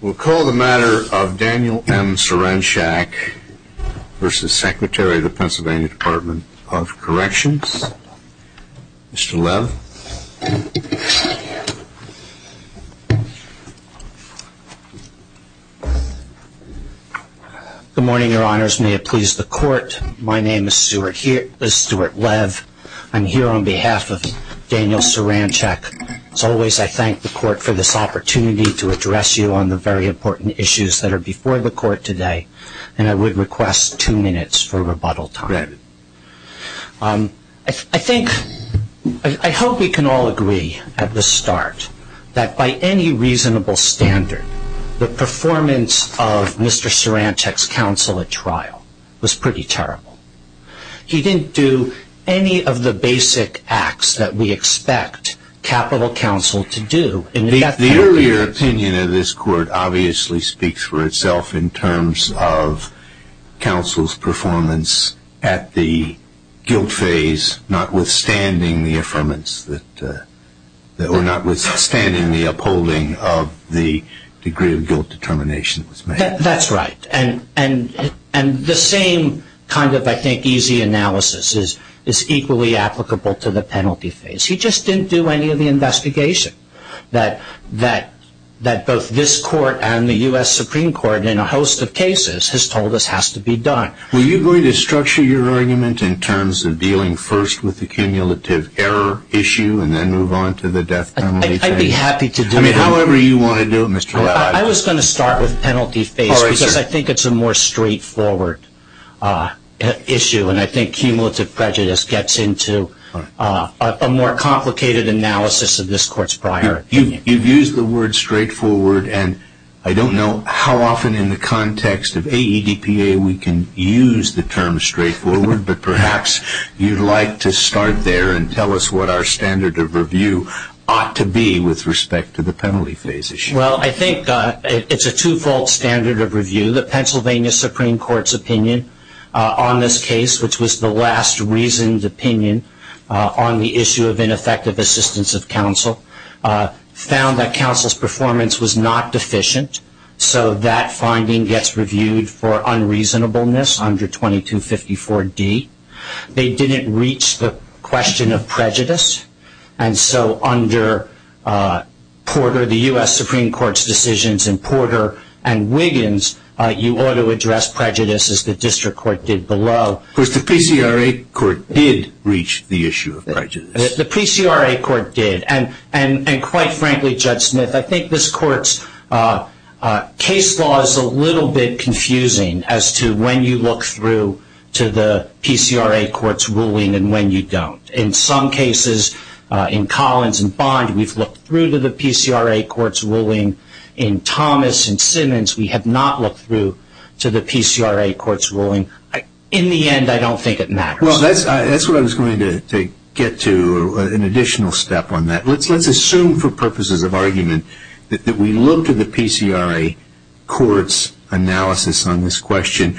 We'll call the matter of Daniel M. Saranchak v. Secretary, Pennsylvania Dept of Corrections. Mr. Lev. Good morning, your honors. May it please the court, my name is Stuart Lev. I'm here on behalf of Daniel Saranchak. As always, I thank the court for this opportunity to address you on the very important issues that are before the court today. And I would request two minutes for rebuttal time. I hope we can all agree at the start that by any reasonable standard, the performance of Mr. Saranchak's counsel at trial was pretty terrible. He didn't do any of the basic acts that we expect capital counsel to do. The earlier opinion of this court obviously speaks for itself in terms of counsel's performance at the guilt phase, notwithstanding the upholding of the degree of guilt determination that was made. That's right. And the same kind of, I think, easy analysis is equally applicable to the penalty phase. He just didn't do any of the investigation that both this court and the U.S. Supreme Court in a host of cases has told us has to be done. Were you going to structure your argument in terms of dealing first with the cumulative error issue and then move on to the death penalty phase? I'd be happy to do that. I mean, however you want to do it, Mr. Lev. I was going to start with penalty phase because I think it's a more straightforward issue, and I think cumulative prejudice gets into a more complicated analysis of this court's prior opinion. You've used the word straightforward, and I don't know how often in the context of AEDPA we can use the term straightforward, but perhaps you'd like to start there and tell us what our standard of review ought to be with respect to the penalty phase issue. Well, I think it's a twofold standard of review. The Pennsylvania Supreme Court's opinion on this case, which was the last reasoned opinion on the issue of ineffective assistance of counsel, found that counsel's performance was not deficient, so that finding gets reviewed for unreasonableness under 2254D. They didn't reach the question of prejudice, and so under Porter, the U.S. Supreme Court's decisions in Porter and Wiggins, you ought to address prejudice as the district court did below. Of course, the PCRA court did reach the issue of prejudice. The PCRA court did, and quite frankly, Judge Smith, I think this court's case law is a little bit confusing as to when you look through to the PCRA court's ruling and when you don't. In some cases, in Collins and Bond, we've looked through to the PCRA court's ruling. In Thomas and Simmons, we have not looked through to the PCRA court's ruling. In the end, I don't think it matters. Well, that's what I was going to get to, an additional step on that. Let's assume for purposes of argument that we looked at the PCRA court's analysis on this question.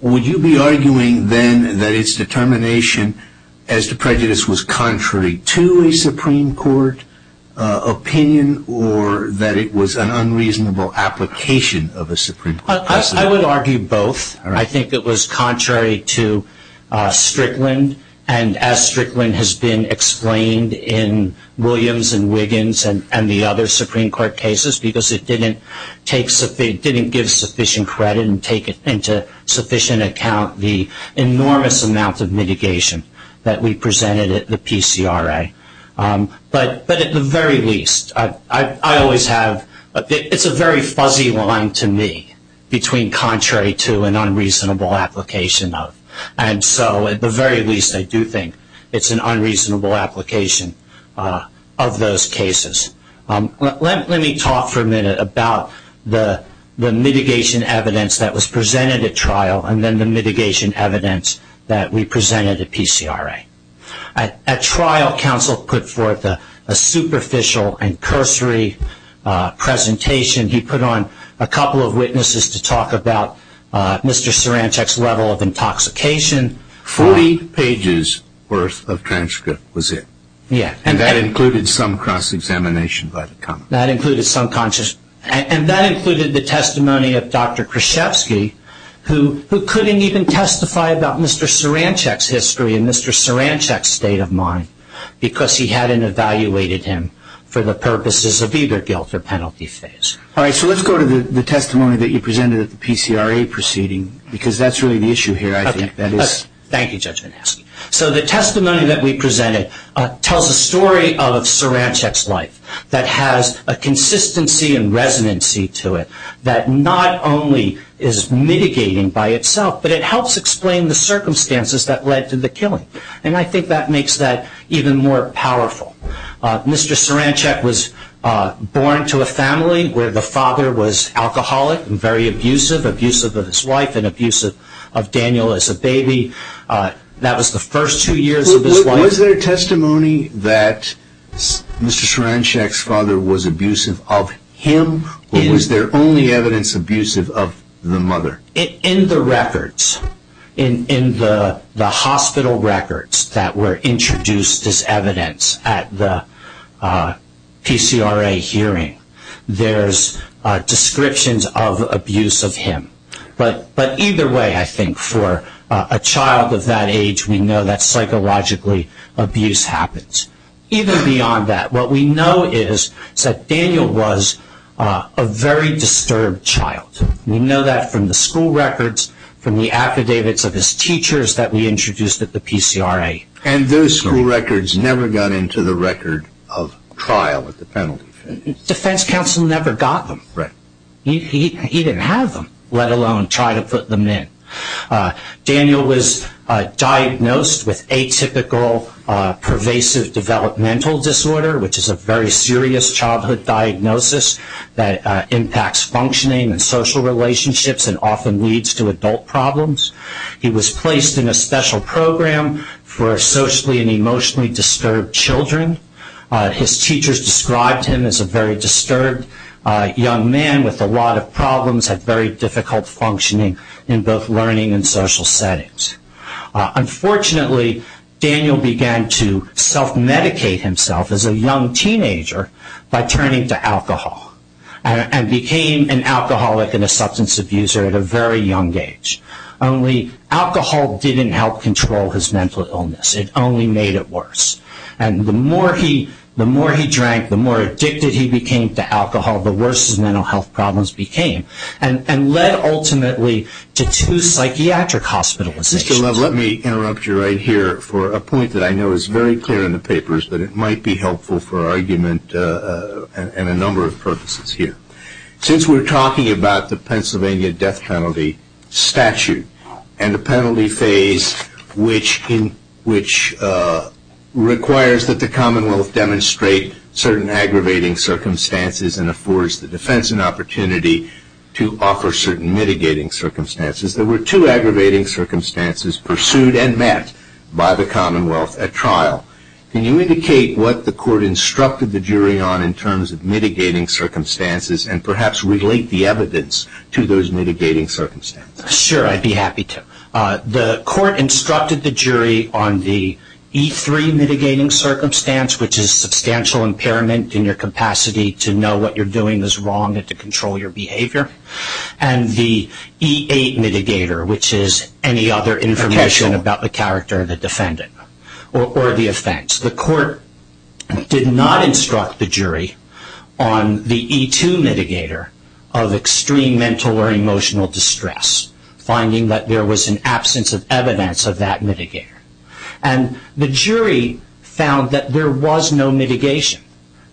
Would you be arguing then that its determination as to prejudice was contrary to a Supreme Court opinion or that it was an unreasonable application of a Supreme Court decision? I would argue both. I think it was contrary to Strickland, and as Strickland has been explained in Williams and Wiggins and the other Supreme Court cases because it didn't give sufficient credit and take into sufficient account the enormous amount of mitigation that we presented at the PCRA. But at the very least, it's a very fuzzy line to me between contrary to and unreasonable application of. At the very least, I do think it's an unreasonable application of those cases. Let me talk for a minute about the mitigation evidence that was presented at trial and then the mitigation evidence that we presented at PCRA. At trial, counsel put forth a superficial and cursory presentation. He put on a couple of witnesses to talk about Mr. Sarancek's level of intoxication. Forty pages' worth of transcript was it? Yes. And that included some cross-examination by the comment? That included some cross-examination. And that included the testimony of Dr. Krzyzewski, who couldn't even testify about Mr. Sarancek's history and Mr. Sarancek's state of mind because he hadn't evaluated him for the purposes of either guilt or penalty phase. All right. So let's go to the testimony that you presented at the PCRA proceeding because that's really the issue here, I think. Thank you, Judge Manasky. So the testimony that we presented tells a story of Sarancek's life that has a consistency and residency to it that not only is mitigating by itself, but it helps explain the circumstances that led to the killing. And I think that makes that even more powerful. Mr. Sarancek was born into a family where the father was alcoholic and very abusive, abusive of his wife and abusive of Daniel as a baby. That was the first two years of his life. Was there testimony that Mr. Sarancek's father was abusive of him or was there only evidence abusive of the mother? In the records, in the hospital records that were introduced as evidence at the PCRA hearing, there's descriptions of abuse of him. But either way, I think, for a child of that age, we know that psychologically abuse happens. Even beyond that, what we know is that Daniel was a very disturbed child. We know that from the school records, from the affidavits of his teachers that we introduced at the PCRA. And those school records never got into the record of trial at the penalty. Defense counsel never got them. Right. He didn't have them, let alone try to put them in. Daniel was diagnosed with atypical pervasive developmental disorder, which is a very serious childhood diagnosis that impacts functioning and social relationships and often leads to adult problems. He was placed in a special program for socially and emotionally disturbed children. His teachers described him as a very disturbed young man with a lot of problems, had very difficult functioning in both learning and social settings. Unfortunately, Daniel began to self-medicate himself as a young teenager by turning to alcohol and became an alcoholic and a substance abuser at a very young age. Only alcohol didn't help control his mental illness. It only made it worse. And the more he drank, the more addicted he became to alcohol, the worse his mental health problems became and led ultimately to two psychiatric hospitalizations. Mr. Love, let me interrupt you right here for a point that I know is very clear in the papers, but it might be helpful for argument and a number of purposes here. Since we're talking about the Pennsylvania death penalty statute and the penalty phase, which requires that the Commonwealth demonstrate certain aggravating circumstances and affords the defense an opportunity to offer certain mitigating circumstances, there were two aggravating circumstances pursued and met by the Commonwealth at trial. Can you indicate what the court instructed the jury on in terms of mitigating circumstances and perhaps relate the evidence to those mitigating circumstances? Sure, I'd be happy to. The court instructed the jury on the E3 mitigating circumstance, which is substantial impairment in your capacity to know what you're doing is wrong and to control your behavior, and the E8 mitigator, which is any other information about the character of the defendant or the offense. The court did not instruct the jury on the E2 mitigator of extreme mental or emotional distress, finding that there was an absence of evidence of that mitigator. And the jury found that there was no mitigation,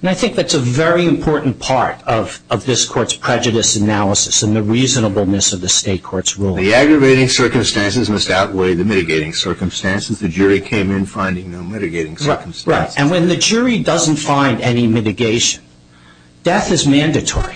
and I think that's a very important part of this court's prejudice analysis and the reasonableness of the state court's ruling. The aggravating circumstances must outweigh the mitigating circumstances. The jury came in finding no mitigating circumstances. Right, and when the jury doesn't find any mitigation, death is mandatory.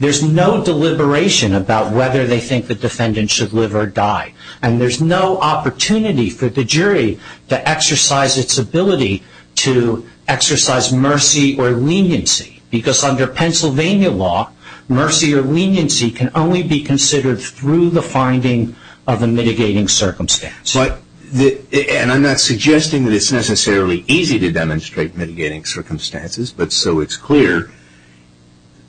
There's no deliberation about whether they think the defendant should live or die, and there's no opportunity for the jury to exercise its ability to exercise mercy or leniency, because under Pennsylvania law, mercy or leniency can only be considered through the finding of a mitigating circumstance. And I'm not suggesting that it's necessarily easy to demonstrate mitigating circumstances, but so it's clear,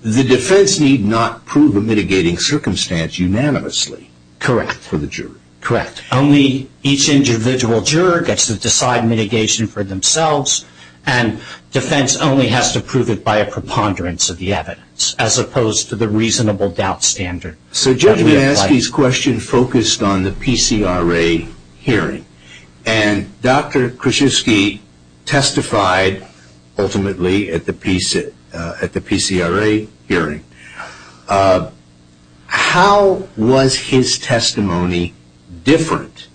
the defense need not prove a mitigating circumstance unanimously. Correct. For the jury. Correct. Only each individual juror gets to decide mitigation for themselves, and defense only has to prove it by a preponderance of the evidence, as opposed to the reasonable doubt standard. So Judge Lansky's question focused on the PCRA hearing, and Dr. Krzyzewski testified ultimately at the PCRA hearing. How was his testimony different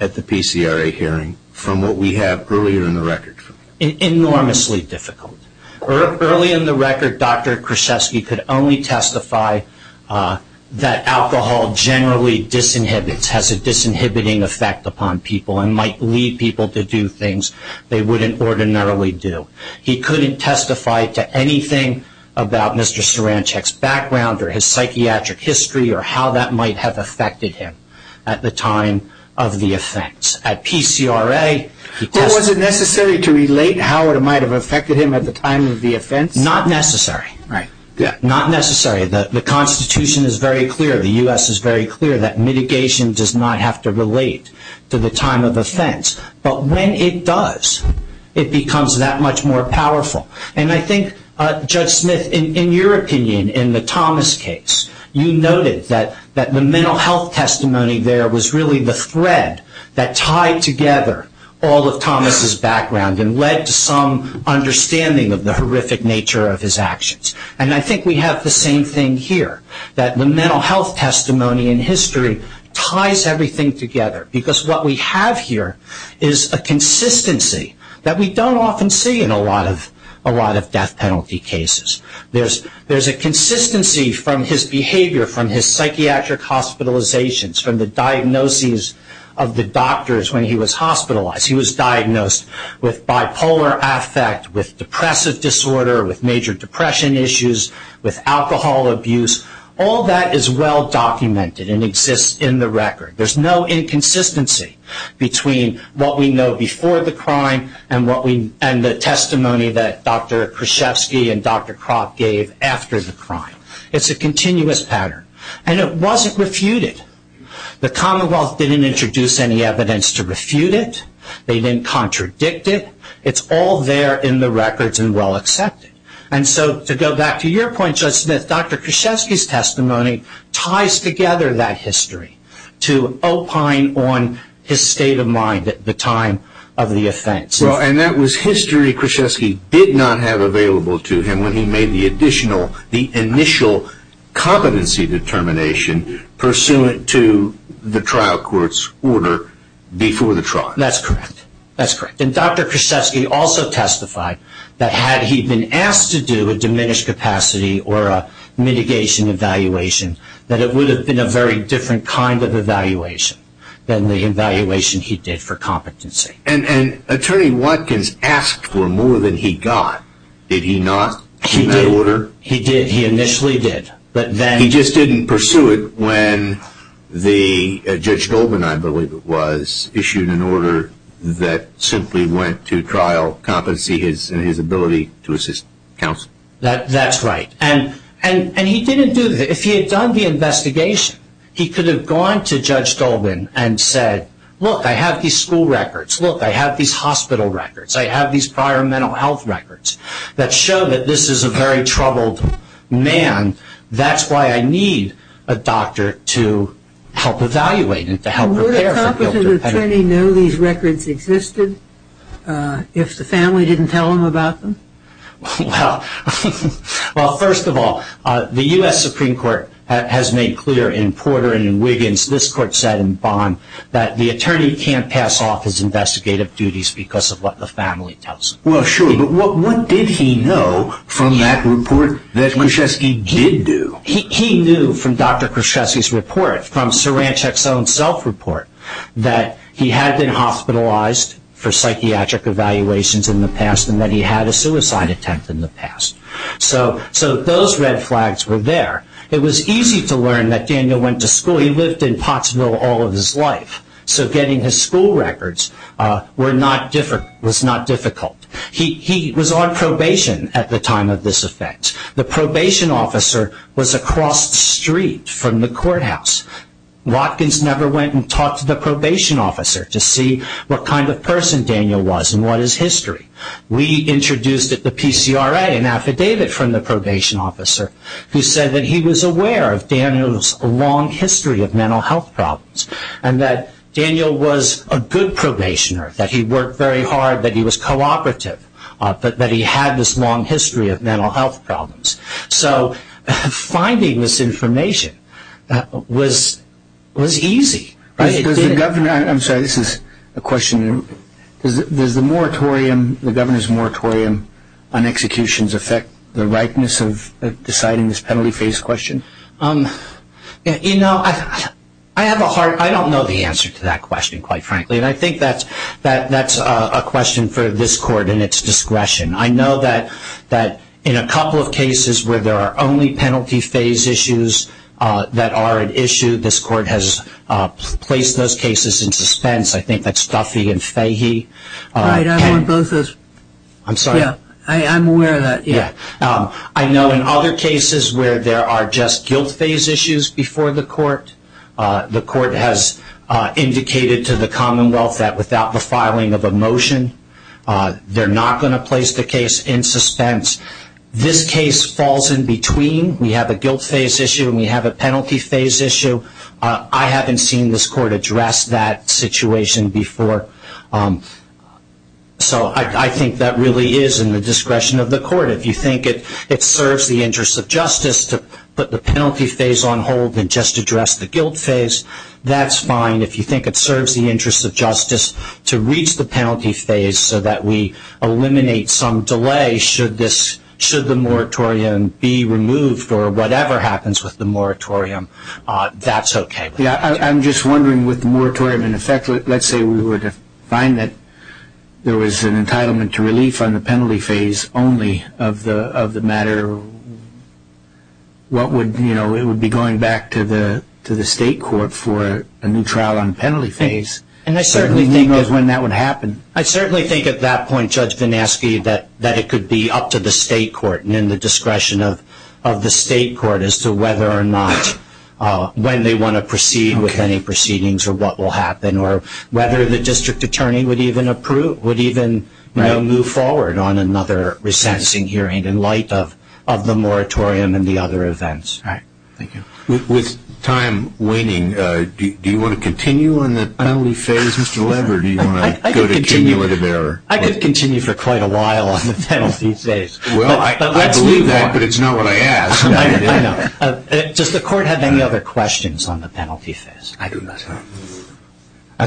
at the PCRA hearing from what we have earlier in the record? Enormously difficult. Early in the record, Dr. Krzyzewski could only testify that alcohol generally disinhibits, has a disinhibiting effect upon people, and might lead people to do things they wouldn't ordinarily do. He couldn't testify to anything about Mr. Sarancek's background or his psychiatric history or how that might have affected him at the time of the offense. At PCRA, he testified. Or was it necessary to relate how it might have affected him at the time of the offense? Not necessary. Right. Not necessary. The Constitution is very clear, the U.S. is very clear, that mitigation does not have to relate to the time of offense. But when it does, it becomes that much more powerful. And I think, Judge Smith, in your opinion, in the Thomas case, you noted that the mental health testimony there was really the thread that tied together all of Thomas' background and led to some understanding of the horrific nature of his actions. And I think we have the same thing here, that the mental health testimony in history ties everything together. Because what we have here is a consistency that we don't often see in a lot of death penalty cases. There's a consistency from his behavior, from his psychiatric hospitalizations, from the diagnoses of the doctors when he was hospitalized. He was diagnosed with bipolar affect, with depressive disorder, with major depression issues, with alcohol abuse. All that is well documented and exists in the record. There's no inconsistency between what we know before the crime and the testimony that Dr. Krzyzewski and Dr. Kropp gave after the crime. It's a continuous pattern. And it wasn't refuted. The Commonwealth didn't introduce any evidence to refute it. They didn't contradict it. It's all there in the records and well accepted. And so to go back to your point, Judge Smith, Dr. Krzyzewski's testimony ties together that history to opine on his state of mind at the time of the offense. And that was history Krzyzewski did not have available to him when he made the initial competency determination pursuant to the trial court's order before the trial. That's correct. And Dr. Krzyzewski also testified that had he been asked to do a diminished capacity or a mitigation evaluation, that it would have been a very different kind of evaluation than the evaluation he did for competency. And Attorney Watkins asked for more than he got. Did he not in that order? He did. He initially did. He just didn't pursue it when Judge Goldman, I believe it was, issued an order that simply went to trial competency and his ability to assist counsel. That's right. And he didn't do that. If he had done the investigation, he could have gone to Judge Goldman and said, look, I have these school records. Look, I have these hospital records. I have these prior mental health records that show that this is a very troubled man. That's why I need a doctor to help evaluate and to help prepare for guilt. Would a competent attorney know these records existed if the family didn't tell him about them? Well, first of all, the U.S. Supreme Court has made clear in Porter and in Wiggins, this court said in Bond, that the attorney can't pass off his investigative duties because of what the family tells him. Well, sure. But what did he know from that report that Kruschevsky did do? He knew from Dr. Kruschevsky's report, from Cerencic's own self-report, that he had been hospitalized for psychiatric evaluations in the past and that he had a suicide attempt in the past. So those red flags were there. It was easy to learn that Daniel went to school. You know, he lived in Pottsville all of his life, so getting his school records was not difficult. He was on probation at the time of this event. The probation officer was across the street from the courthouse. Watkins never went and talked to the probation officer to see what kind of person Daniel was and what his history. We introduced at the PCRA an affidavit from the probation officer who said that he was aware of Daniel's long history of mental health problems and that Daniel was a good probationer, that he worked very hard, that he was cooperative, that he had this long history of mental health problems. So finding this information was easy. I'm sorry, this is a question. Does the moratorium, the governor's moratorium on executions, affect the rightness of deciding this penalty phase question? You know, I have a hard, I don't know the answer to that question, quite frankly, and I think that's a question for this court and its discretion. I know that in a couple of cases where there are only penalty phase issues that are an issue, this court has placed those cases in suspense. I think that's Duffy and Fahey. Right, I'm aware of that. I know in other cases where there are just guilt phase issues before the court, the court has indicated to the Commonwealth that without the filing of a motion, they're not going to place the case in suspense. This case falls in between. We have a guilt phase issue and we have a penalty phase issue. I haven't seen this court address that situation before. So I think that really is in the discretion of the court. If you think it serves the interests of justice to put the penalty phase on hold and just address the guilt phase, that's fine. If you think it serves the interests of justice to reach the penalty phase so that we eliminate some delay should the moratorium be removed or whatever happens with the moratorium, that's okay. I'm just wondering with the moratorium in effect, let's say we were to find that there was an entitlement to relief on the penalty phase only of the matter, it would be going back to the state court for a new trial on the penalty phase. I certainly think at that point, Judge Vinasky, that it could be up to the state court and in the discretion of the state court as to whether or not when they want to proceed with any proceedings or what will happen or whether the district attorney would even move forward on another resensing hearing in light of the moratorium and the other events. All right. Thank you. With time waning, do you want to continue on the penalty phase, Mr. Lever, or do you want to go to cumulative error? I could continue for quite a while on the penalty phase. Well, I believe that, but it's not what I asked. I know. Does the court have any other questions on the penalty phase? I do not.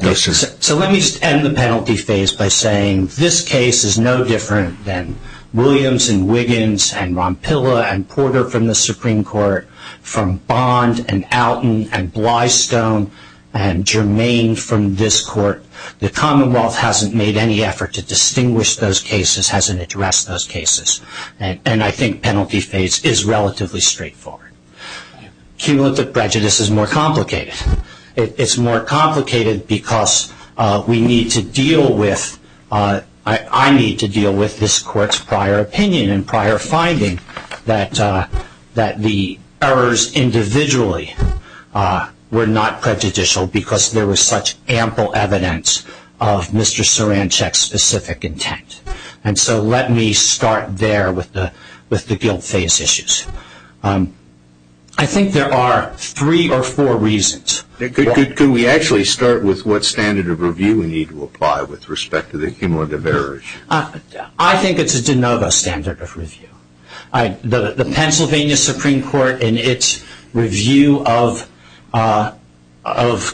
So let me just end the penalty phase by saying this case is no different than Williams and Wiggins and Rompilla and Porter from the Supreme Court, from Bond and Alton and Blystone and Germain from this court. The Commonwealth hasn't made any effort to distinguish those cases, hasn't addressed those cases, and I think penalty phase is relatively straightforward. Cumulative prejudice is more complicated. It's more complicated because we need to deal with, I need to deal with this court's prior opinion and prior finding that the errors individually were not prejudicial because there was such ample evidence of Mr. Saranchek's specific intent. And so let me start there with the guilt phase issues. I think there are three or four reasons. Could we actually start with what standard of review we need to apply with respect to the cumulative errors? I think it's a de novo standard of review. The Pennsylvania Supreme Court in its review of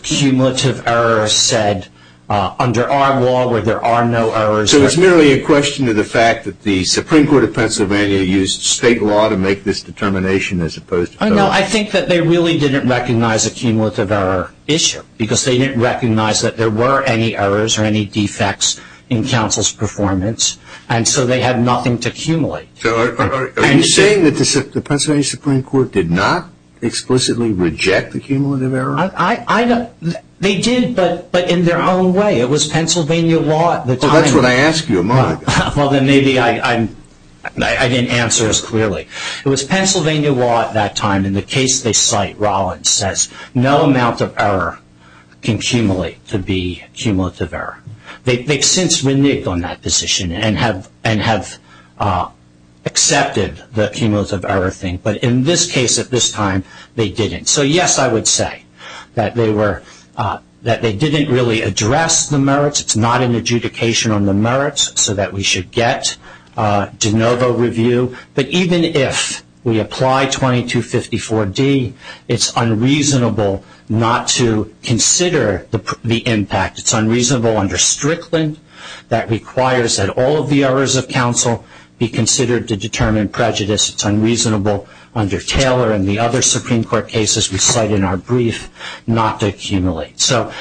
cumulative errors said, under our law where there are no errors. So it's merely a question of the fact that the Supreme Court of Pennsylvania used state law to make this determination as opposed to federal? No, I think that they really didn't recognize a cumulative error issue because they didn't recognize that there were any errors or any defects in counsel's performance and so they had nothing to accumulate. Are you saying that the Pennsylvania Supreme Court did not explicitly reject the cumulative error? They did, but in their own way. It was Pennsylvania law at the time. Well, that's what I asked you a moment ago. Well, then maybe I didn't answer as clearly. It was Pennsylvania law at that time. And in the case they cite, Rollins says, no amount of error can accumulate to be cumulative error. They've since reneged on that position and have accepted the cumulative error thing. But in this case at this time, they didn't. So yes, I would say that they didn't really address the merits. It's not an adjudication on the merits so that we should get de novo review. But even if we apply 2254D, it's unreasonable not to consider the impact. It's unreasonable under Strickland that requires that all of the errors of counsel be considered to determine prejudice. It's unreasonable under Taylor and the other Supreme Court cases we cite in our brief not to accumulate. So,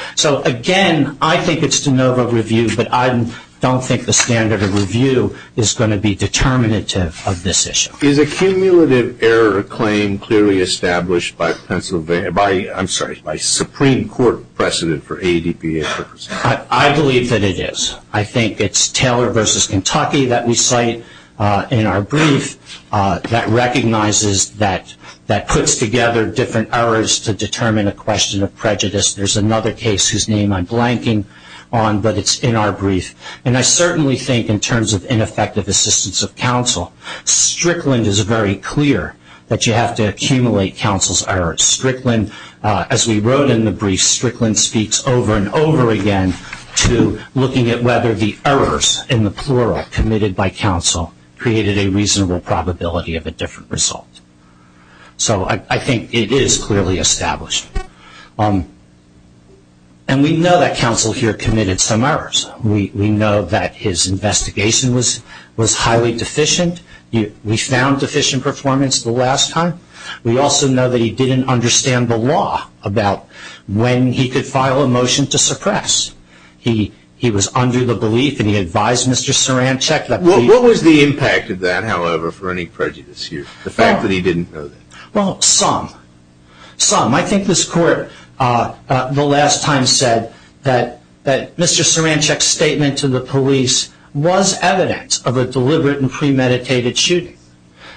again, I think it's de novo review, but I don't think the standard of review is going to be determinative of this issue. Is a cumulative error claim clearly established by Pennsylvania, I'm sorry, by Supreme Court precedent for ADPA purposes? I believe that it is. I think it's Taylor v. Kentucky that we cite in our brief that recognizes that puts together different errors to determine a question of prejudice. There's another case whose name I'm blanking on, but it's in our brief. And I certainly think in terms of ineffective assistance of counsel, Strickland is very clear that you have to accumulate counsel's errors. Strickland, as we wrote in the brief, Strickland speaks over and over again to looking at whether the errors in the plural committed by counsel created a reasonable probability of a different result. So I think it is clearly established. And we know that counsel here committed some errors. We know that his investigation was highly deficient. We found deficient performance the last time. We also know that he didn't understand the law about when he could file a motion to suppress. He was under the belief, and he advised Mr. Saran to check the brief. What was the impact of that, however, for any prejudice here, the fact that he didn't know that? Well, some. Some. I think this Court the last time said that Mr. Sarancic's statement to the police was evidence of a deliberate and premeditated shooting.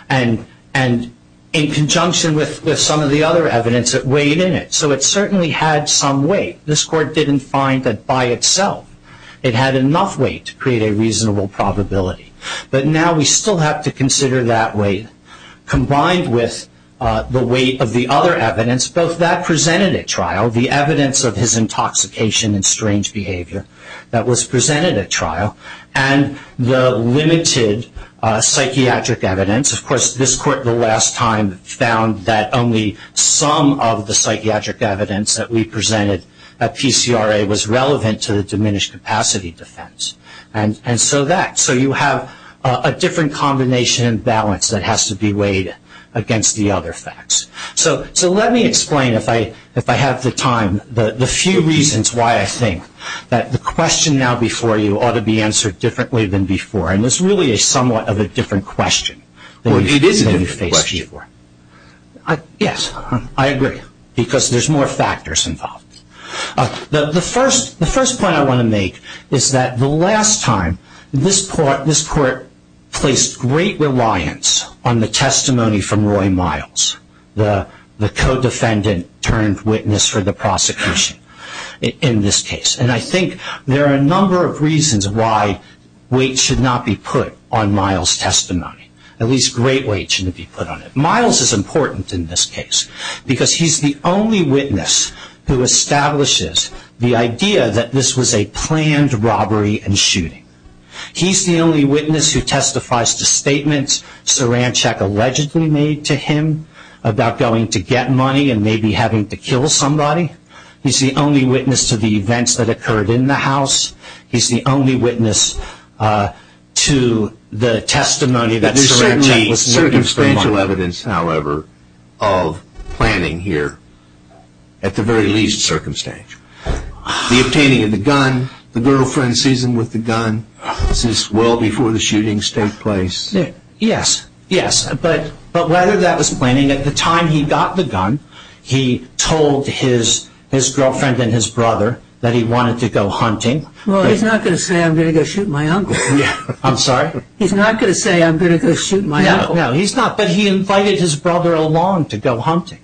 And in conjunction with some of the other evidence, it weighed in it. So it certainly had some weight. But now we still have to consider that weight combined with the weight of the other evidence, both that presented at trial, the evidence of his intoxication and strange behavior that was presented at trial, and the limited psychiatric evidence. Of course, this Court the last time found that only some of the psychiatric evidence that we presented at PCRA was relevant to the diminished capacity defense. And so that. We now have a different combination and balance that has to be weighed against the other facts. So let me explain, if I have the time, the few reasons why I think that the question now before you ought to be answered differently than before. And it's really somewhat of a different question. It is a different question. Yes, I agree. Because there's more factors involved. The first point I want to make is that the last time, this Court placed great reliance on the testimony from Roy Miles, the co-defendant turned witness for the prosecution in this case. And I think there are a number of reasons why weight should not be put on Miles' testimony. At least great weight shouldn't be put on it. Miles is important in this case, because he's the only witness who establishes the idea that this was a planned robbery and shooting. He's the only witness who testifies to statements Saranchek allegedly made to him about going to get money and maybe having to kill somebody. He's the only witness to the events that occurred in the house. He's the only witness to the testimony that Saranchek was making to Miles. There's certainly circumstantial evidence, however, of planning here, at the very least, circumstantial. The obtaining of the gun, the girlfriend's season with the gun, this is well before the shootings take place. Yes, yes. But whether that was planning, at the time he got the gun, he told his girlfriend and his brother that he wanted to go hunting. Well, he's not going to say, I'm going to go shoot my uncle. I'm sorry? He's not going to say, I'm going to go shoot my uncle. No, he's not. But he invited his brother along to go hunting.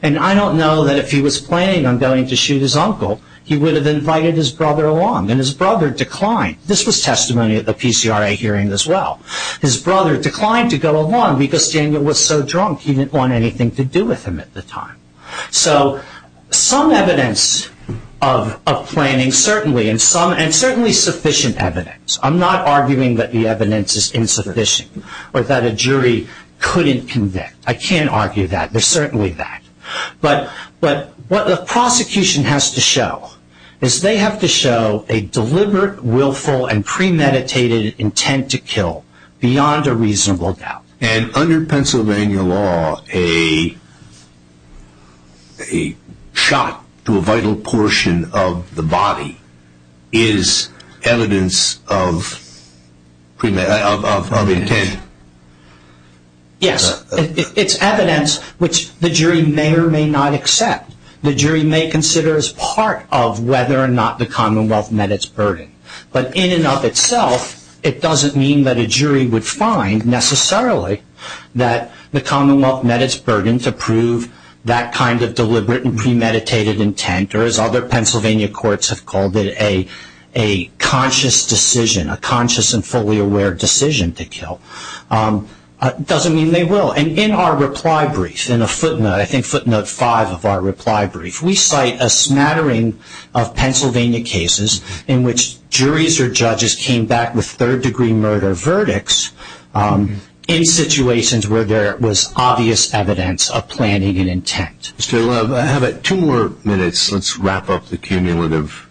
And I don't know that if he was planning on going to shoot his uncle, he would have invited his brother along. And his brother declined. This was testimony at the PCRA hearing as well. His brother declined to go along because Daniel was so drunk he didn't want anything to do with him at the time. So some evidence of planning, certainly, and certainly sufficient evidence. I'm not arguing that the evidence is insufficient or that a jury couldn't convict. I can't argue that. There's certainly that. But what the prosecution has to show is they have to show a deliberate, willful, and premeditated intent to kill beyond a reasonable doubt. And under Pennsylvania law, a shot to a vital portion of the body is evidence of intent? Yes. It's evidence which the jury may or may not accept. The jury may consider as part of whether or not the Commonwealth met its burden. But in and of itself, it doesn't mean that a jury would find, necessarily, that the Commonwealth met its burden to prove that kind of deliberate and premeditated intent, or as other Pennsylvania courts have called it, a conscious decision, a conscious and fully aware decision to kill. It doesn't mean they will. And in our reply brief, in a footnote, I think footnote five of our reply brief, we cite a smattering of Pennsylvania cases in which juries or judges came back with third-degree murder verdicts in situations where there was obvious evidence of planning and intent. Mr. Love, I have two more minutes. Let's wrap up the cumulative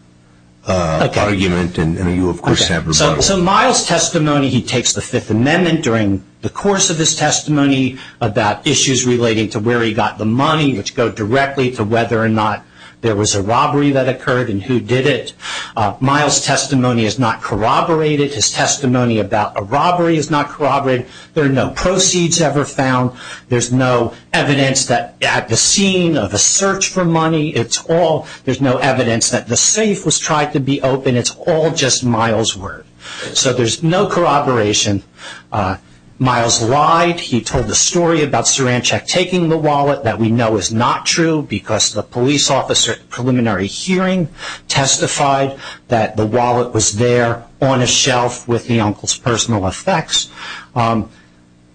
argument, and then you, of course, have rebuttal. So Miles' testimony, he takes the Fifth Amendment during the course of his testimony about issues relating to where he got the money, which go directly to whether or not there was a robbery that occurred and who did it. Miles' testimony is not corroborated. His testimony about a robbery is not corroborated. There are no proceeds ever found. There's no evidence that at the scene of a search for money, it's all, there's no evidence that the safe was tried to be open. It's all just Miles' word. So there's no corroboration. Miles lied. He told the story about Saranchak taking the wallet that we know is not true because the police officer at the preliminary hearing testified that the wallet was there on a shelf with the uncle's personal effects.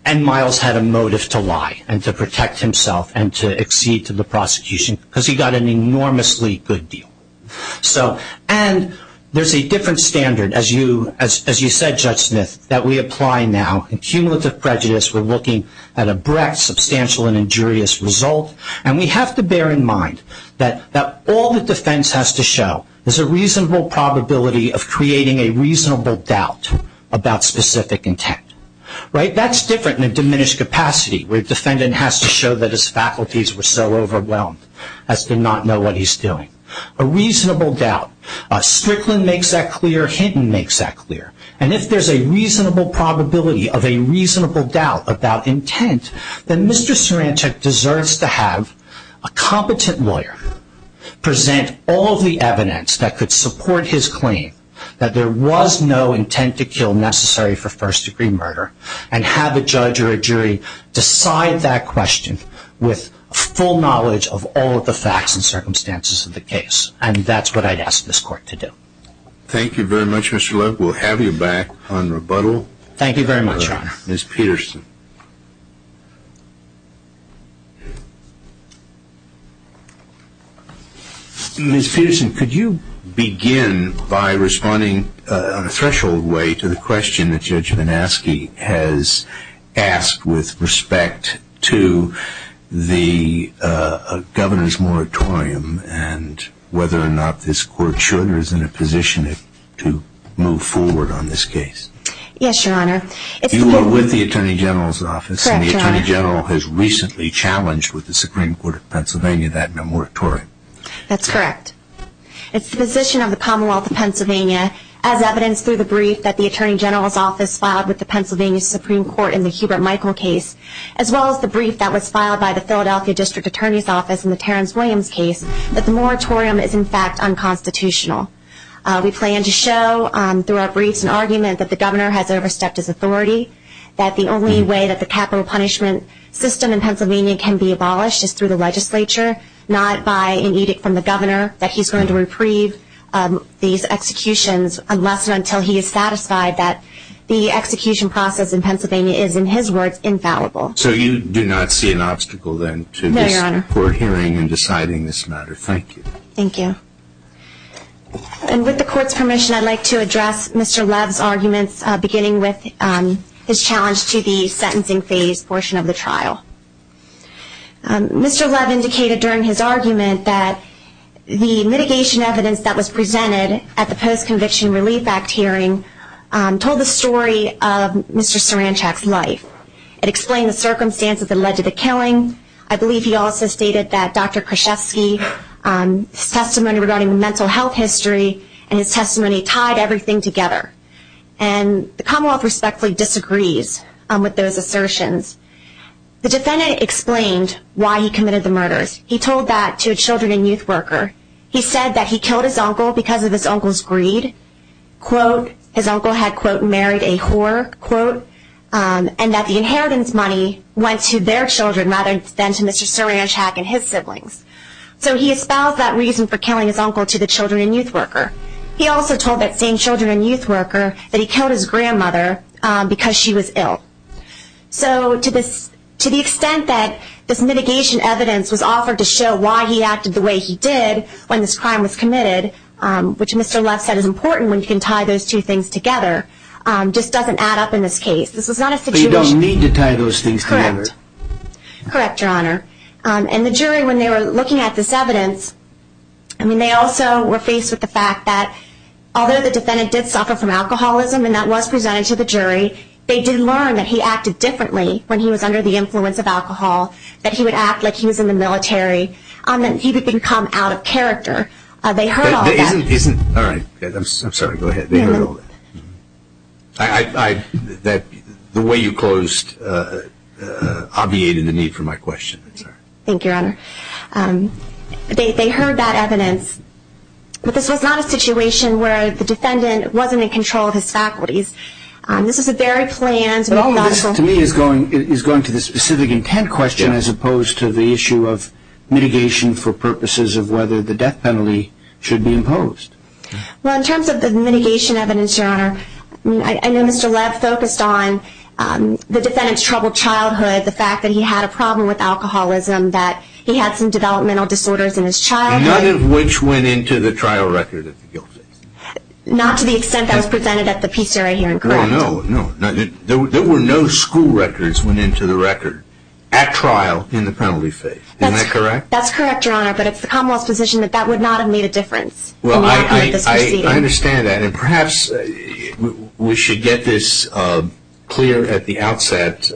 And Miles had a motive to lie and to protect himself and to accede to the prosecution because he got an enormously good deal. And there's a different standard, as you said, Judge Smith, that we apply now. In cumulative prejudice, we're looking at a breadth, substantial, and injurious result. And we have to bear in mind that all that defense has to show is a reasonable probability of creating a reasonable doubt about specific intent. Right? That's different in a diminished capacity where a defendant has to show that his faculties were so overwhelmed as to not know what he's doing. A reasonable doubt. Strickland makes that clear. Hinton makes that clear. And if there's a reasonable probability of a reasonable doubt about intent, then Mr. Saranchak deserves to have a competent lawyer present all of the evidence that could support his claim that there was no intent to kill necessary for first-degree murder and have a judge or a jury decide that question with full knowledge of all of the facts and circumstances of the case. And that's what I'd ask this court to do. Thank you very much, Mr. Leff. We'll have you back on rebuttal. Thank you very much, Your Honor. Ms. Peterson. Ms. Peterson, could you begin by responding on a threshold way to the question that Judge Manaske has asked with respect to the governor's moratorium and whether or not this court should or is in a position to move forward on this case? Yes, Your Honor. You are with the Attorney General's Office. Correct, Your Honor. And the Attorney General has recently challenged with the Supreme Court of Pennsylvania that moratorium. That's correct. It's the position of the Commonwealth of Pennsylvania, as evidenced through the brief that the Attorney General's Office filed with the Pennsylvania Supreme Court in the Hubert Michael case, as well as the brief that was filed by the Philadelphia District Attorney's Office in the Terrence Williams case, that the moratorium is in fact unconstitutional. We plan to show through our briefs an argument that the governor has overstepped his authority, that the only way that the capital punishment system in Pennsylvania can be abolished is through the legislature, not by an edict from the governor that he's going to reprieve these executions unless and until he is satisfied that the execution process in Pennsylvania is, in his words, infallible. So you do not see an obstacle then to this court hearing and deciding this matter? No, Your Honor. Thank you. And with the Court's permission, I'd like to address Mr. Love's arguments, beginning with his challenge to the sentencing phase portion of the trial. Mr. Love indicated during his argument that the mitigation evidence that was presented at the Post-Conviction Relief Act hearing told the story of Mr. Saranchak's life. I believe he also stated that Dr. Krzyzewski's testimony regarding mental health history and his testimony tied everything together. And the Commonwealth respectfully disagrees with those assertions. The defendant explained why he committed the murders. He told that to a children and youth worker. He said that he killed his uncle because of his uncle's greed, his uncle had, quote, married a whore, quote, and that the inheritance money went to their children rather than to Mr. Saranchak and his siblings. So he espoused that reason for killing his uncle to the children and youth worker. He also told that same children and youth worker that he killed his grandmother because she was ill. So to the extent that this mitigation evidence was offered to show why he acted the way he did when this crime was committed, which Mr. Love said is important when you can tie those two things together, just doesn't add up in this case. This is not a situation. But you don't need to tie those things together. Correct. Correct, Your Honor. And the jury, when they were looking at this evidence, I mean, they also were faced with the fact that although the defendant did suffer from alcoholism, and that was presented to the jury, they did learn that he acted differently when he was under the influence of alcohol, that he would act like he was in the military, and that he would become out of character. They heard all that. All right. I'm sorry. Go ahead. They heard all that. The way you closed obviated the need for my question. Thank you, Your Honor. They heard that evidence. But this was not a situation where the defendant wasn't in control of his faculties. This is a very planned, methodical. This, to me, is going to the specific intent question, as opposed to the issue of mitigation for purposes of whether the death penalty should be imposed. Well, in terms of the mitigation evidence, Your Honor, I know Mr. Lev focused on the defendant's troubled childhood, the fact that he had a problem with alcoholism, that he had some developmental disorders in his childhood. None of which went into the trial record of the guilty. Not to the extent that was presented at the PCRA hearing, correct? No, no. There were no school records that went into the record at trial in the penalty phase. Isn't that correct? That's correct, Your Honor. But it's the Commonwealth's position that that would not have made a difference. Well, I understand that. And perhaps we should get this clear at the outset.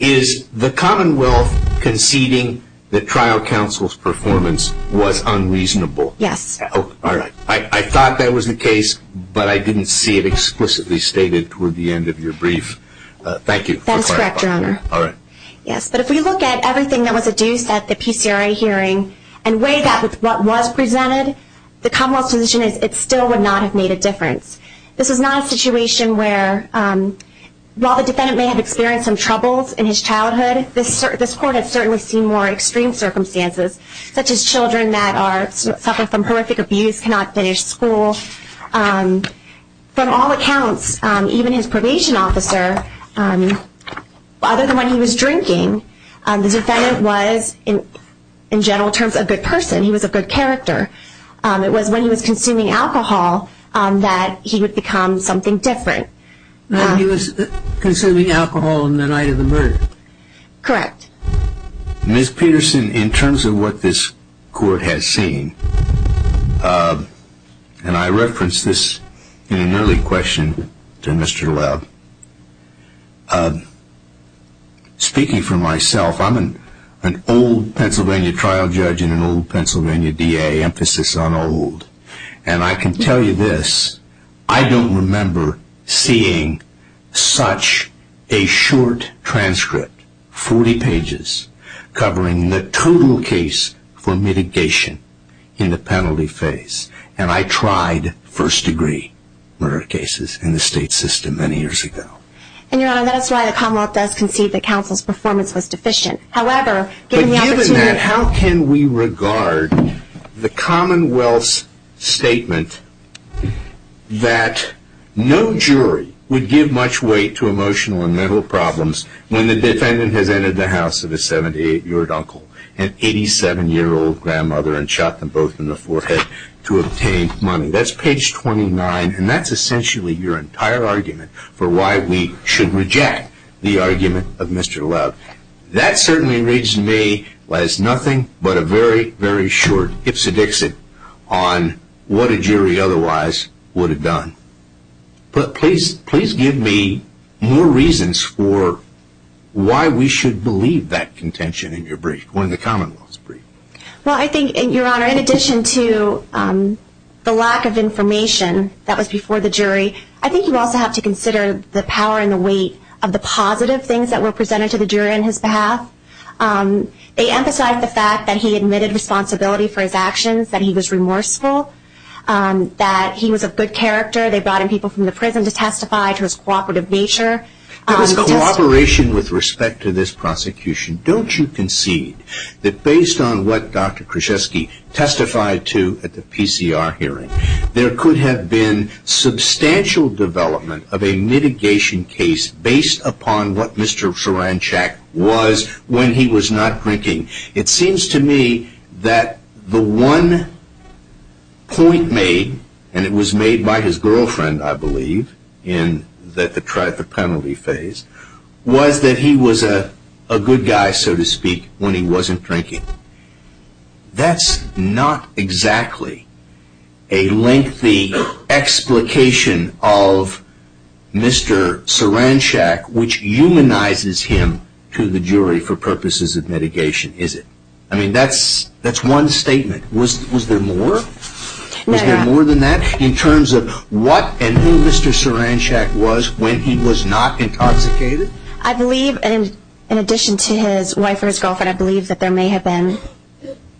Is the Commonwealth conceding that trial counsel's performance was unreasonable? Yes. All right. I thought that was the case, but I didn't see it explicitly stated toward the end of your brief. That is correct, Your Honor. All right. Yes, but if we look at everything that was adduced at the PCRA hearing and weigh that with what was presented, the Commonwealth's position is it still would not have made a difference. This is not a situation where, while the defendant may have experienced some troubles in his childhood, this court has certainly seen more extreme circumstances, such as children that suffer from horrific abuse, cannot finish school. From all accounts, even his probation officer, other than when he was drinking, the defendant was, in general terms, a good person. He was of good character. It was when he was consuming alcohol that he would become something different. He was consuming alcohol on the night of the murder. Correct. Ms. Peterson, in terms of what this court has seen, and I referenced this in an early question to Mr. Webb, speaking for myself, I'm an old Pennsylvania trial judge and an old Pennsylvania DA, emphasis on old, and I can tell you this, I don't remember seeing such a short transcript, 40 pages, covering the total case for mitigation in the penalty phase. And I tried first-degree murder cases in the state system many years ago. And, Your Honor, that's why the Commonwealth does concede that counsel's performance was deficient. But given that, how can we regard the Commonwealth's statement that no jury would give much weight to emotional and mental problems when the defendant has entered the house of a 78-year-old uncle and 87-year-old grandmother and shot them both in the forehead to obtain money? That's page 29, and that's essentially your entire argument for why we should reject the argument of Mr. Webb. That certainly reads to me as nothing but a very, very short ipsedixit on what a jury otherwise would have done. But please give me more reasons for why we should believe that contention in your brief, or in the Commonwealth's brief. Well, I think, Your Honor, in addition to the lack of information that was before the jury, I think you also have to consider the power and the weight of the positive things that were presented to the jury on his behalf. They emphasized the fact that he admitted responsibility for his actions, that he was remorseful, that he was of good character. They brought in people from the prison to testify to his cooperative nature. There was cooperation with respect to this prosecution. Don't you concede that based on what Dr. Krzyzewski testified to at the PCR hearing, there could have been substantial development of a mitigation case based upon what Mr. Soranchak was when he was not drinking? It seems to me that the one point made, and it was made by his girlfriend, I believe, in the penalty phase, was that he was a good guy, so to speak, when he wasn't drinking. That's not exactly a lengthy explication of Mr. Soranchak, which humanizes him to the jury for purposes of mitigation, is it? I mean, that's one statement. Was there more? Was there more than that in terms of what and who Mr. Soranchak was when he was not intoxicated? I believe, in addition to his wife or his girlfriend, I believe that there may have been,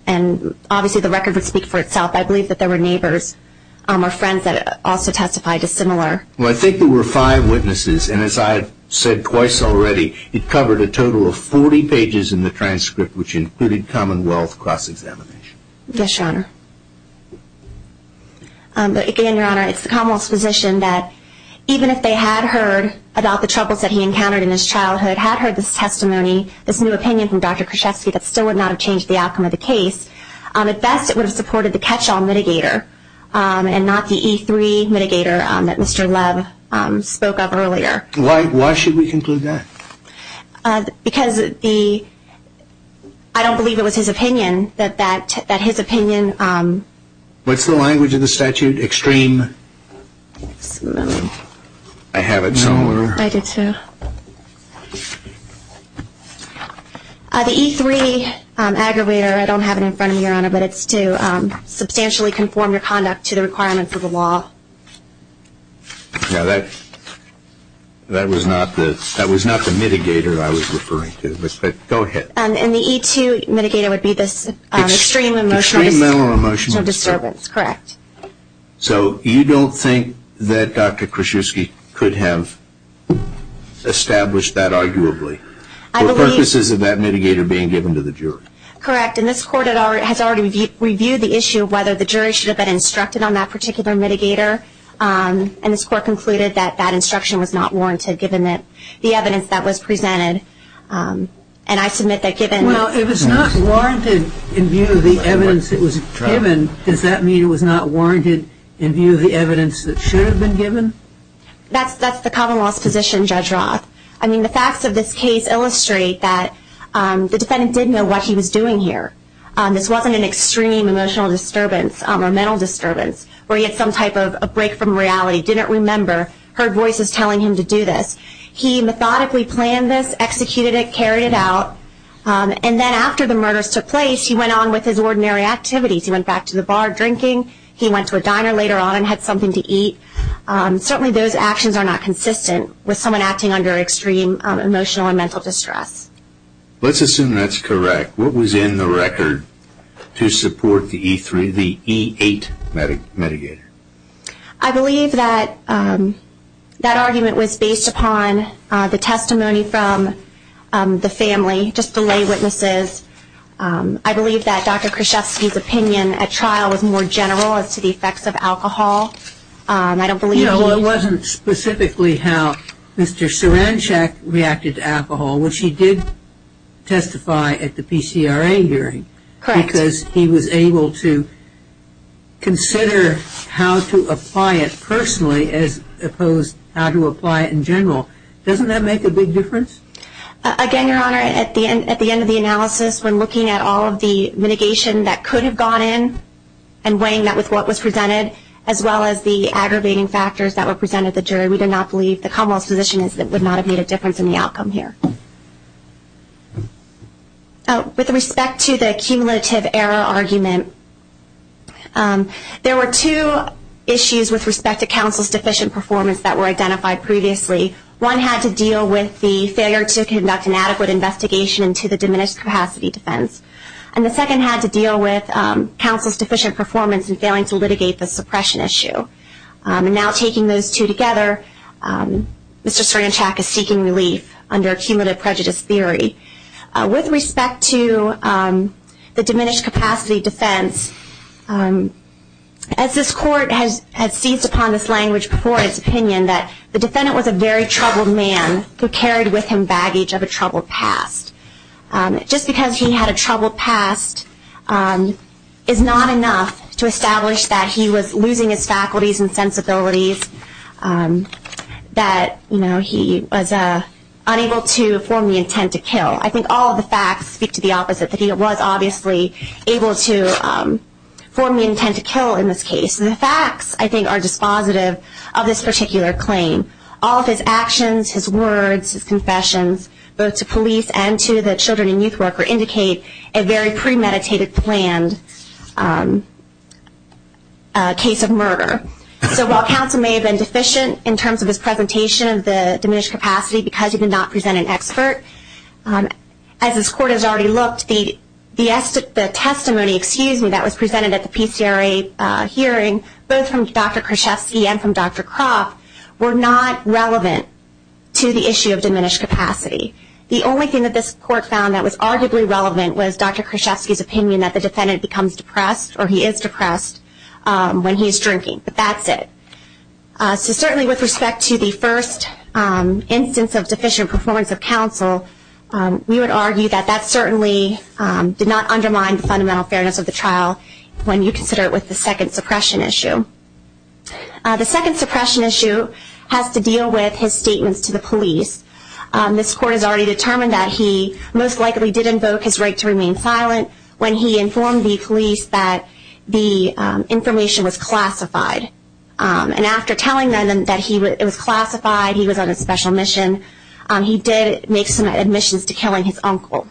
and obviously the record would speak for itself, I believe that there were neighbors or friends that also testified dissimilar. Well, I think there were five witnesses, and as I've said twice already, it covered a total of 40 pages in the transcript, which included Commonwealth cross-examination. Yes, Your Honor. Again, Your Honor, it's the Commonwealth's position that even if they had heard about the troubles that he encountered in his childhood, had heard this testimony, this new opinion from Dr. Kruschevsky that still would not have changed the outcome of the case, at best it would have supported the catch-all mitigator and not the E3 mitigator that Mr. Lev spoke of earlier. Why should we conclude that? Because I don't believe it was his opinion that his opinion... What's the language of the statute? Extreme? I have it somewhere. I do too. The E3 aggravator, I don't have it in front of me, Your Honor, but it's to substantially conform your conduct to the requirements of the law. Now, that was not the mitigator I was referring to, but go ahead. And the E2 mitigator would be this extreme emotional disturbance, correct? So you don't think that Dr. Kruschevsky could have established that arguably for purposes of that mitigator being given to the jury? Correct, and this Court has already reviewed the issue of whether the jury should have been instructed on that particular mitigator, and this Court concluded that that instruction was not warranted, given the evidence that was presented, and I submit that given... Well, if it's not warranted in view of the evidence that was given, does that mean it was not warranted in view of the evidence that should have been given? That's the common law's position, Judge Roth. I mean, the facts of this case illustrate that the defendant did know what he was doing here. This wasn't an extreme emotional disturbance or mental disturbance where he had some type of a break from reality, didn't remember, heard voices telling him to do this. He methodically planned this, executed it, carried it out, and then after the murders took place, he went on with his ordinary activities. He went back to the bar drinking. He went to a diner later on and had something to eat. Certainly those actions are not consistent with someone acting under extreme emotional and mental distress. Let's assume that's correct. What was in the record to support the E-8 mitigator? I believe that that argument was based upon the testimony from the family, just the lay witnesses. I believe that Dr. Krzyzewski's opinion at trial was more general as to the effects of alcohol. I don't believe he – Well, it wasn't specifically how Mr. Suranshak reacted to alcohol, which he did testify at the PCRA hearing. Correct. Because he was able to consider how to apply it personally as opposed to how to apply it in general. Doesn't that make a big difference? Again, Your Honor, at the end of the analysis, when looking at all of the mitigation that could have gone in and weighing that with what was presented, as well as the aggravating factors that were presented at the jury, we did not believe the Commonwealth's position is that it would not have made a difference in the outcome here. With respect to the cumulative error argument, there were two issues with respect to counsel's deficient performance that were identified previously. One had to deal with the failure to conduct an adequate investigation into the diminished capacity defense. And the second had to deal with counsel's deficient performance in failing to litigate the suppression issue. And now taking those two together, Mr. Suranshak is seeking relief under cumulative prejudice theory. With respect to the diminished capacity defense, as this Court has seized upon this language before its opinion, the defendant was a very troubled man who carried with him baggage of a troubled past. Just because he had a troubled past is not enough to establish that he was losing his faculties and sensibilities, that he was unable to form the intent to kill. I think all of the facts speak to the opposite, that he was obviously able to form the intent to kill in this case. The facts, I think, are dispositive of this particular claim. All of his actions, his words, his confessions, both to police and to the children and youth worker, indicate a very premeditated planned case of murder. So while counsel may have been deficient in terms of his presentation of the diminished capacity because he did not present an expert, as this Court has already looked, the testimony that was presented at the PCRA hearing, both from Dr. Kruszewski and from Dr. Croft, were not relevant to the issue of diminished capacity. The only thing that this Court found that was arguably relevant was Dr. Kruszewski's opinion that the defendant becomes depressed or he is depressed when he is drinking, but that's it. So certainly with respect to the first instance of deficient performance of counsel, we would argue that that certainly did not undermine the fundamental fairness of the trial when you consider it with the second suppression issue. The second suppression issue has to deal with his statements to the police. This Court has already determined that he most likely did invoke his right to remain silent when he informed the police that the information was classified. And after telling them that it was classified, he was on a special mission, he did make some admissions to killing his uncle.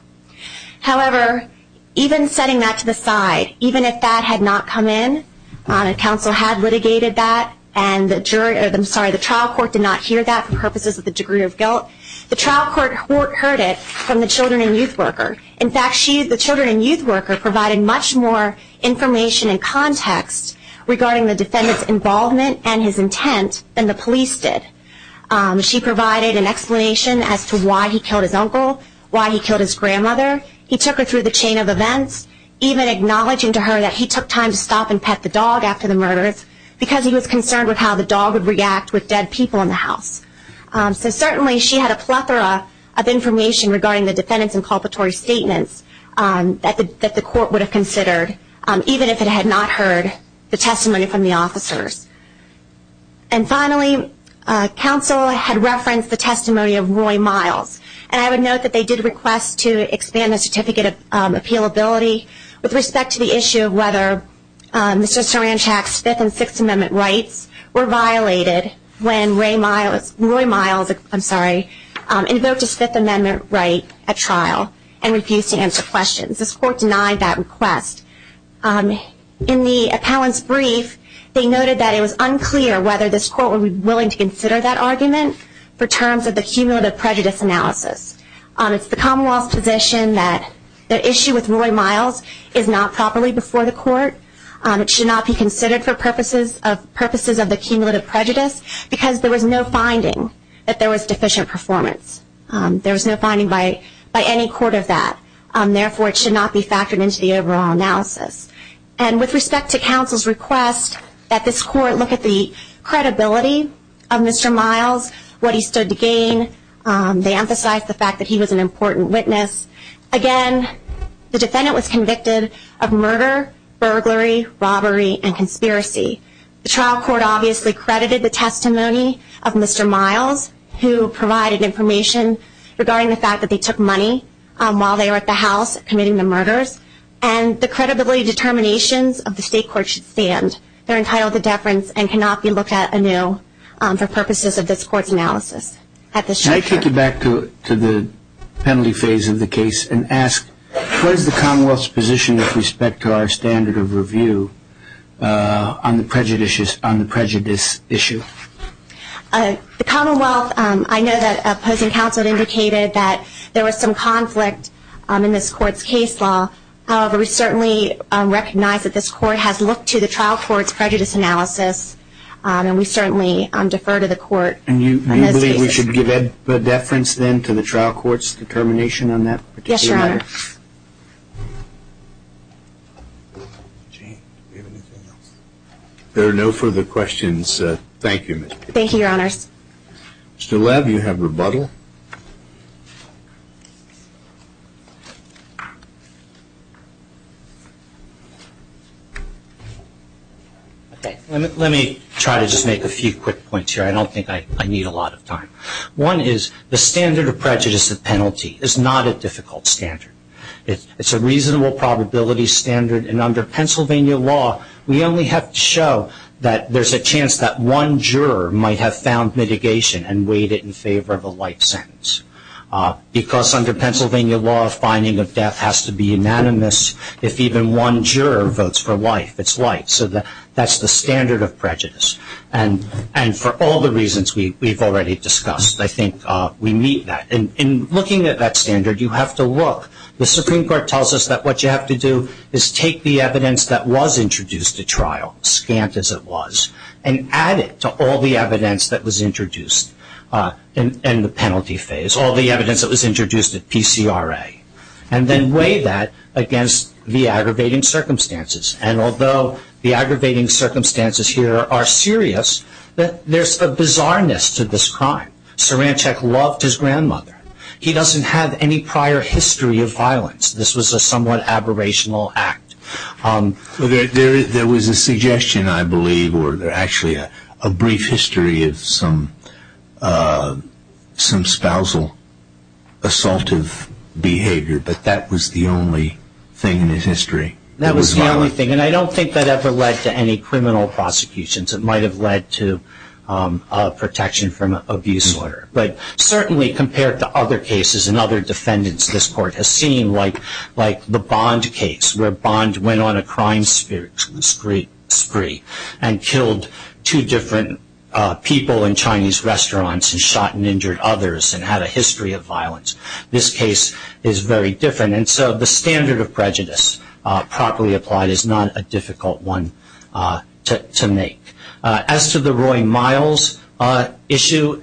However, even setting that to the side, even if that had not come in, if counsel had litigated that and the trial court did not hear that for purposes of the degree of guilt, the trial court heard it from the children and youth worker. In fact, the children and youth worker provided much more information and context regarding the defendant's involvement and his intent than the police did. She provided an explanation as to why he killed his uncle, why he killed his grandmother. He took her through the chain of events, even acknowledging to her that he took time to stop and pet the dog after the murders because he was concerned with how the dog would react with dead people in the house. So certainly she had a plethora of information regarding the defendant's inculpatory statements that the court would have considered, even if it had not heard the testimony from the officers. And finally, counsel had referenced the testimony of Roy Miles. And I would note that they did request to expand the certificate of appealability with respect to the issue of whether Mr. Saranchak's Fifth and Sixth Amendment rights were violated when Roy Miles invoked his Fifth Amendment right at trial and refused to answer questions. This court denied that request. In the appellant's brief, they noted that it was unclear whether this court would be willing to consider that argument for terms of the cumulative prejudice analysis. It's the Commonwealth's position that the issue with Roy Miles is not properly before the court. It should not be considered for purposes of the cumulative prejudice because there was no finding that there was deficient performance. There was no finding by any court of that. Therefore, it should not be factored into the overall analysis. And with respect to counsel's request that this court look at the credibility of Mr. Miles, what he stood to gain, they emphasized the fact that he was an important witness. Again, the defendant was convicted of murder, burglary, robbery, and conspiracy. The trial court obviously credited the testimony of Mr. Miles, who provided information regarding the fact that they took money while they were at the house committing the murders, and the credibility determinations of the state court should stand. They're entitled to deference and cannot be looked at anew for purposes of this court's analysis. Can I take you back to the penalty phase of the case and ask what is the Commonwealth's position with respect to our standard of review on the prejudice issue? The Commonwealth, I know that opposing counsel indicated that there was some conflict in this court's case law. However, we certainly recognize that this court has looked to the trial court's prejudice analysis, and we certainly defer to the court on this case. And you believe we should give deference then to the trial court's determination on that particular matter? Yes, Your Honor. Jane, do we have anything else? There are no further questions. Thank you, Ms. Peterson. Thank you, Your Honors. Mr. Lev, you have rebuttal. Let me try to just make a few quick points here. I don't think I need a lot of time. One is the standard of prejudice at penalty is not a difficult standard. It's a reasonable probability standard, and under Pennsylvania law we only have to show that there's a chance that one juror might have found mitigation and weighed it in favor of a life sentence. Because under Pennsylvania law, a finding of death has to be unanimous if even one juror votes for life, it's life. So that's the standard of prejudice. And for all the reasons we've already discussed, I think we meet that. In looking at that standard, you have to look. The Supreme Court tells us that what you have to do is take the evidence that was introduced at trial, scant as it was, and add it to all the evidence that was introduced in the penalty phase, all the evidence that was introduced at PCRA, and then weigh that against the aggravating circumstances. And although the aggravating circumstances here are serious, there's a bizarreness to this crime. Saranchek loved his grandmother. He doesn't have any prior history of violence. This was a somewhat aberrational act. There was a suggestion, I believe, or actually a brief history of some spousal assaultive behavior, but that was the only thing in his history that was violent. That was the only thing, and I don't think that ever led to any criminal prosecutions. It might have led to protection from abuse order. But certainly compared to other cases and other defendants this court has seen, like the Bond case where Bond went on a crime spree and killed two different people in Chinese restaurants and shot and injured others and had a history of violence, this case is very different. And so the standard of prejudice properly applied is not a difficult one to make. As to the Roy Miles issue,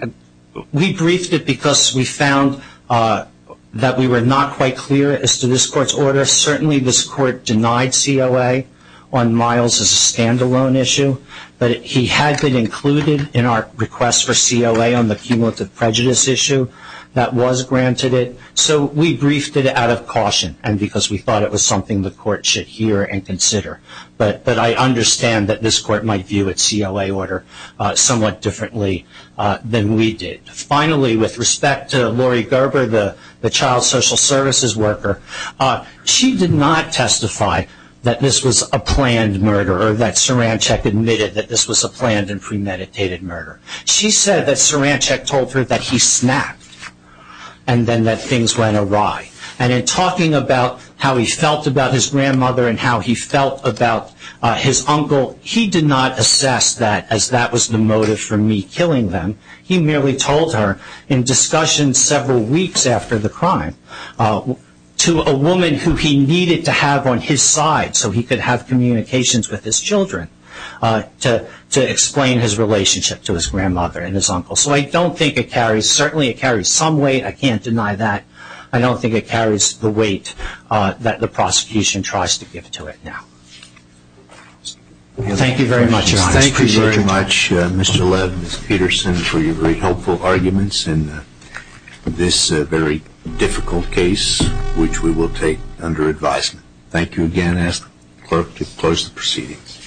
we briefed it because we found that we were not quite clear as to this court's order. Certainly this court denied COA on Miles' standalone issue, but he had been included in our request for COA on the cumulative prejudice issue that was granted it. So we briefed it out of caution, and because we thought it was something the court should hear and consider. But I understand that this court might view its COA order somewhat differently than we did. Finally, with respect to Lori Gerber, the child social services worker, she did not testify that this was a planned murder or that Saranchek admitted that this was a planned and premeditated murder. She said that Saranchek told her that he snapped and then that things went awry. And in talking about how he felt about his grandmother and how he felt about his uncle, he did not assess that as that was the motive for me killing them. He merely told her in discussion several weeks after the crime to a woman who he needed to have on his side so he could have communications with his children to explain his relationship to his grandmother and his uncle. So I don't think it carries, certainly it carries some weight, I can't deny that. I don't think it carries the weight that the prosecution tries to give to it now. Thank you very much, Your Honor. Thank you very much, Mr. Lev and Ms. Peterson, for your very helpful arguments in this very difficult case which we will take under advisement. Thank you again. I ask the court to close the proceedings.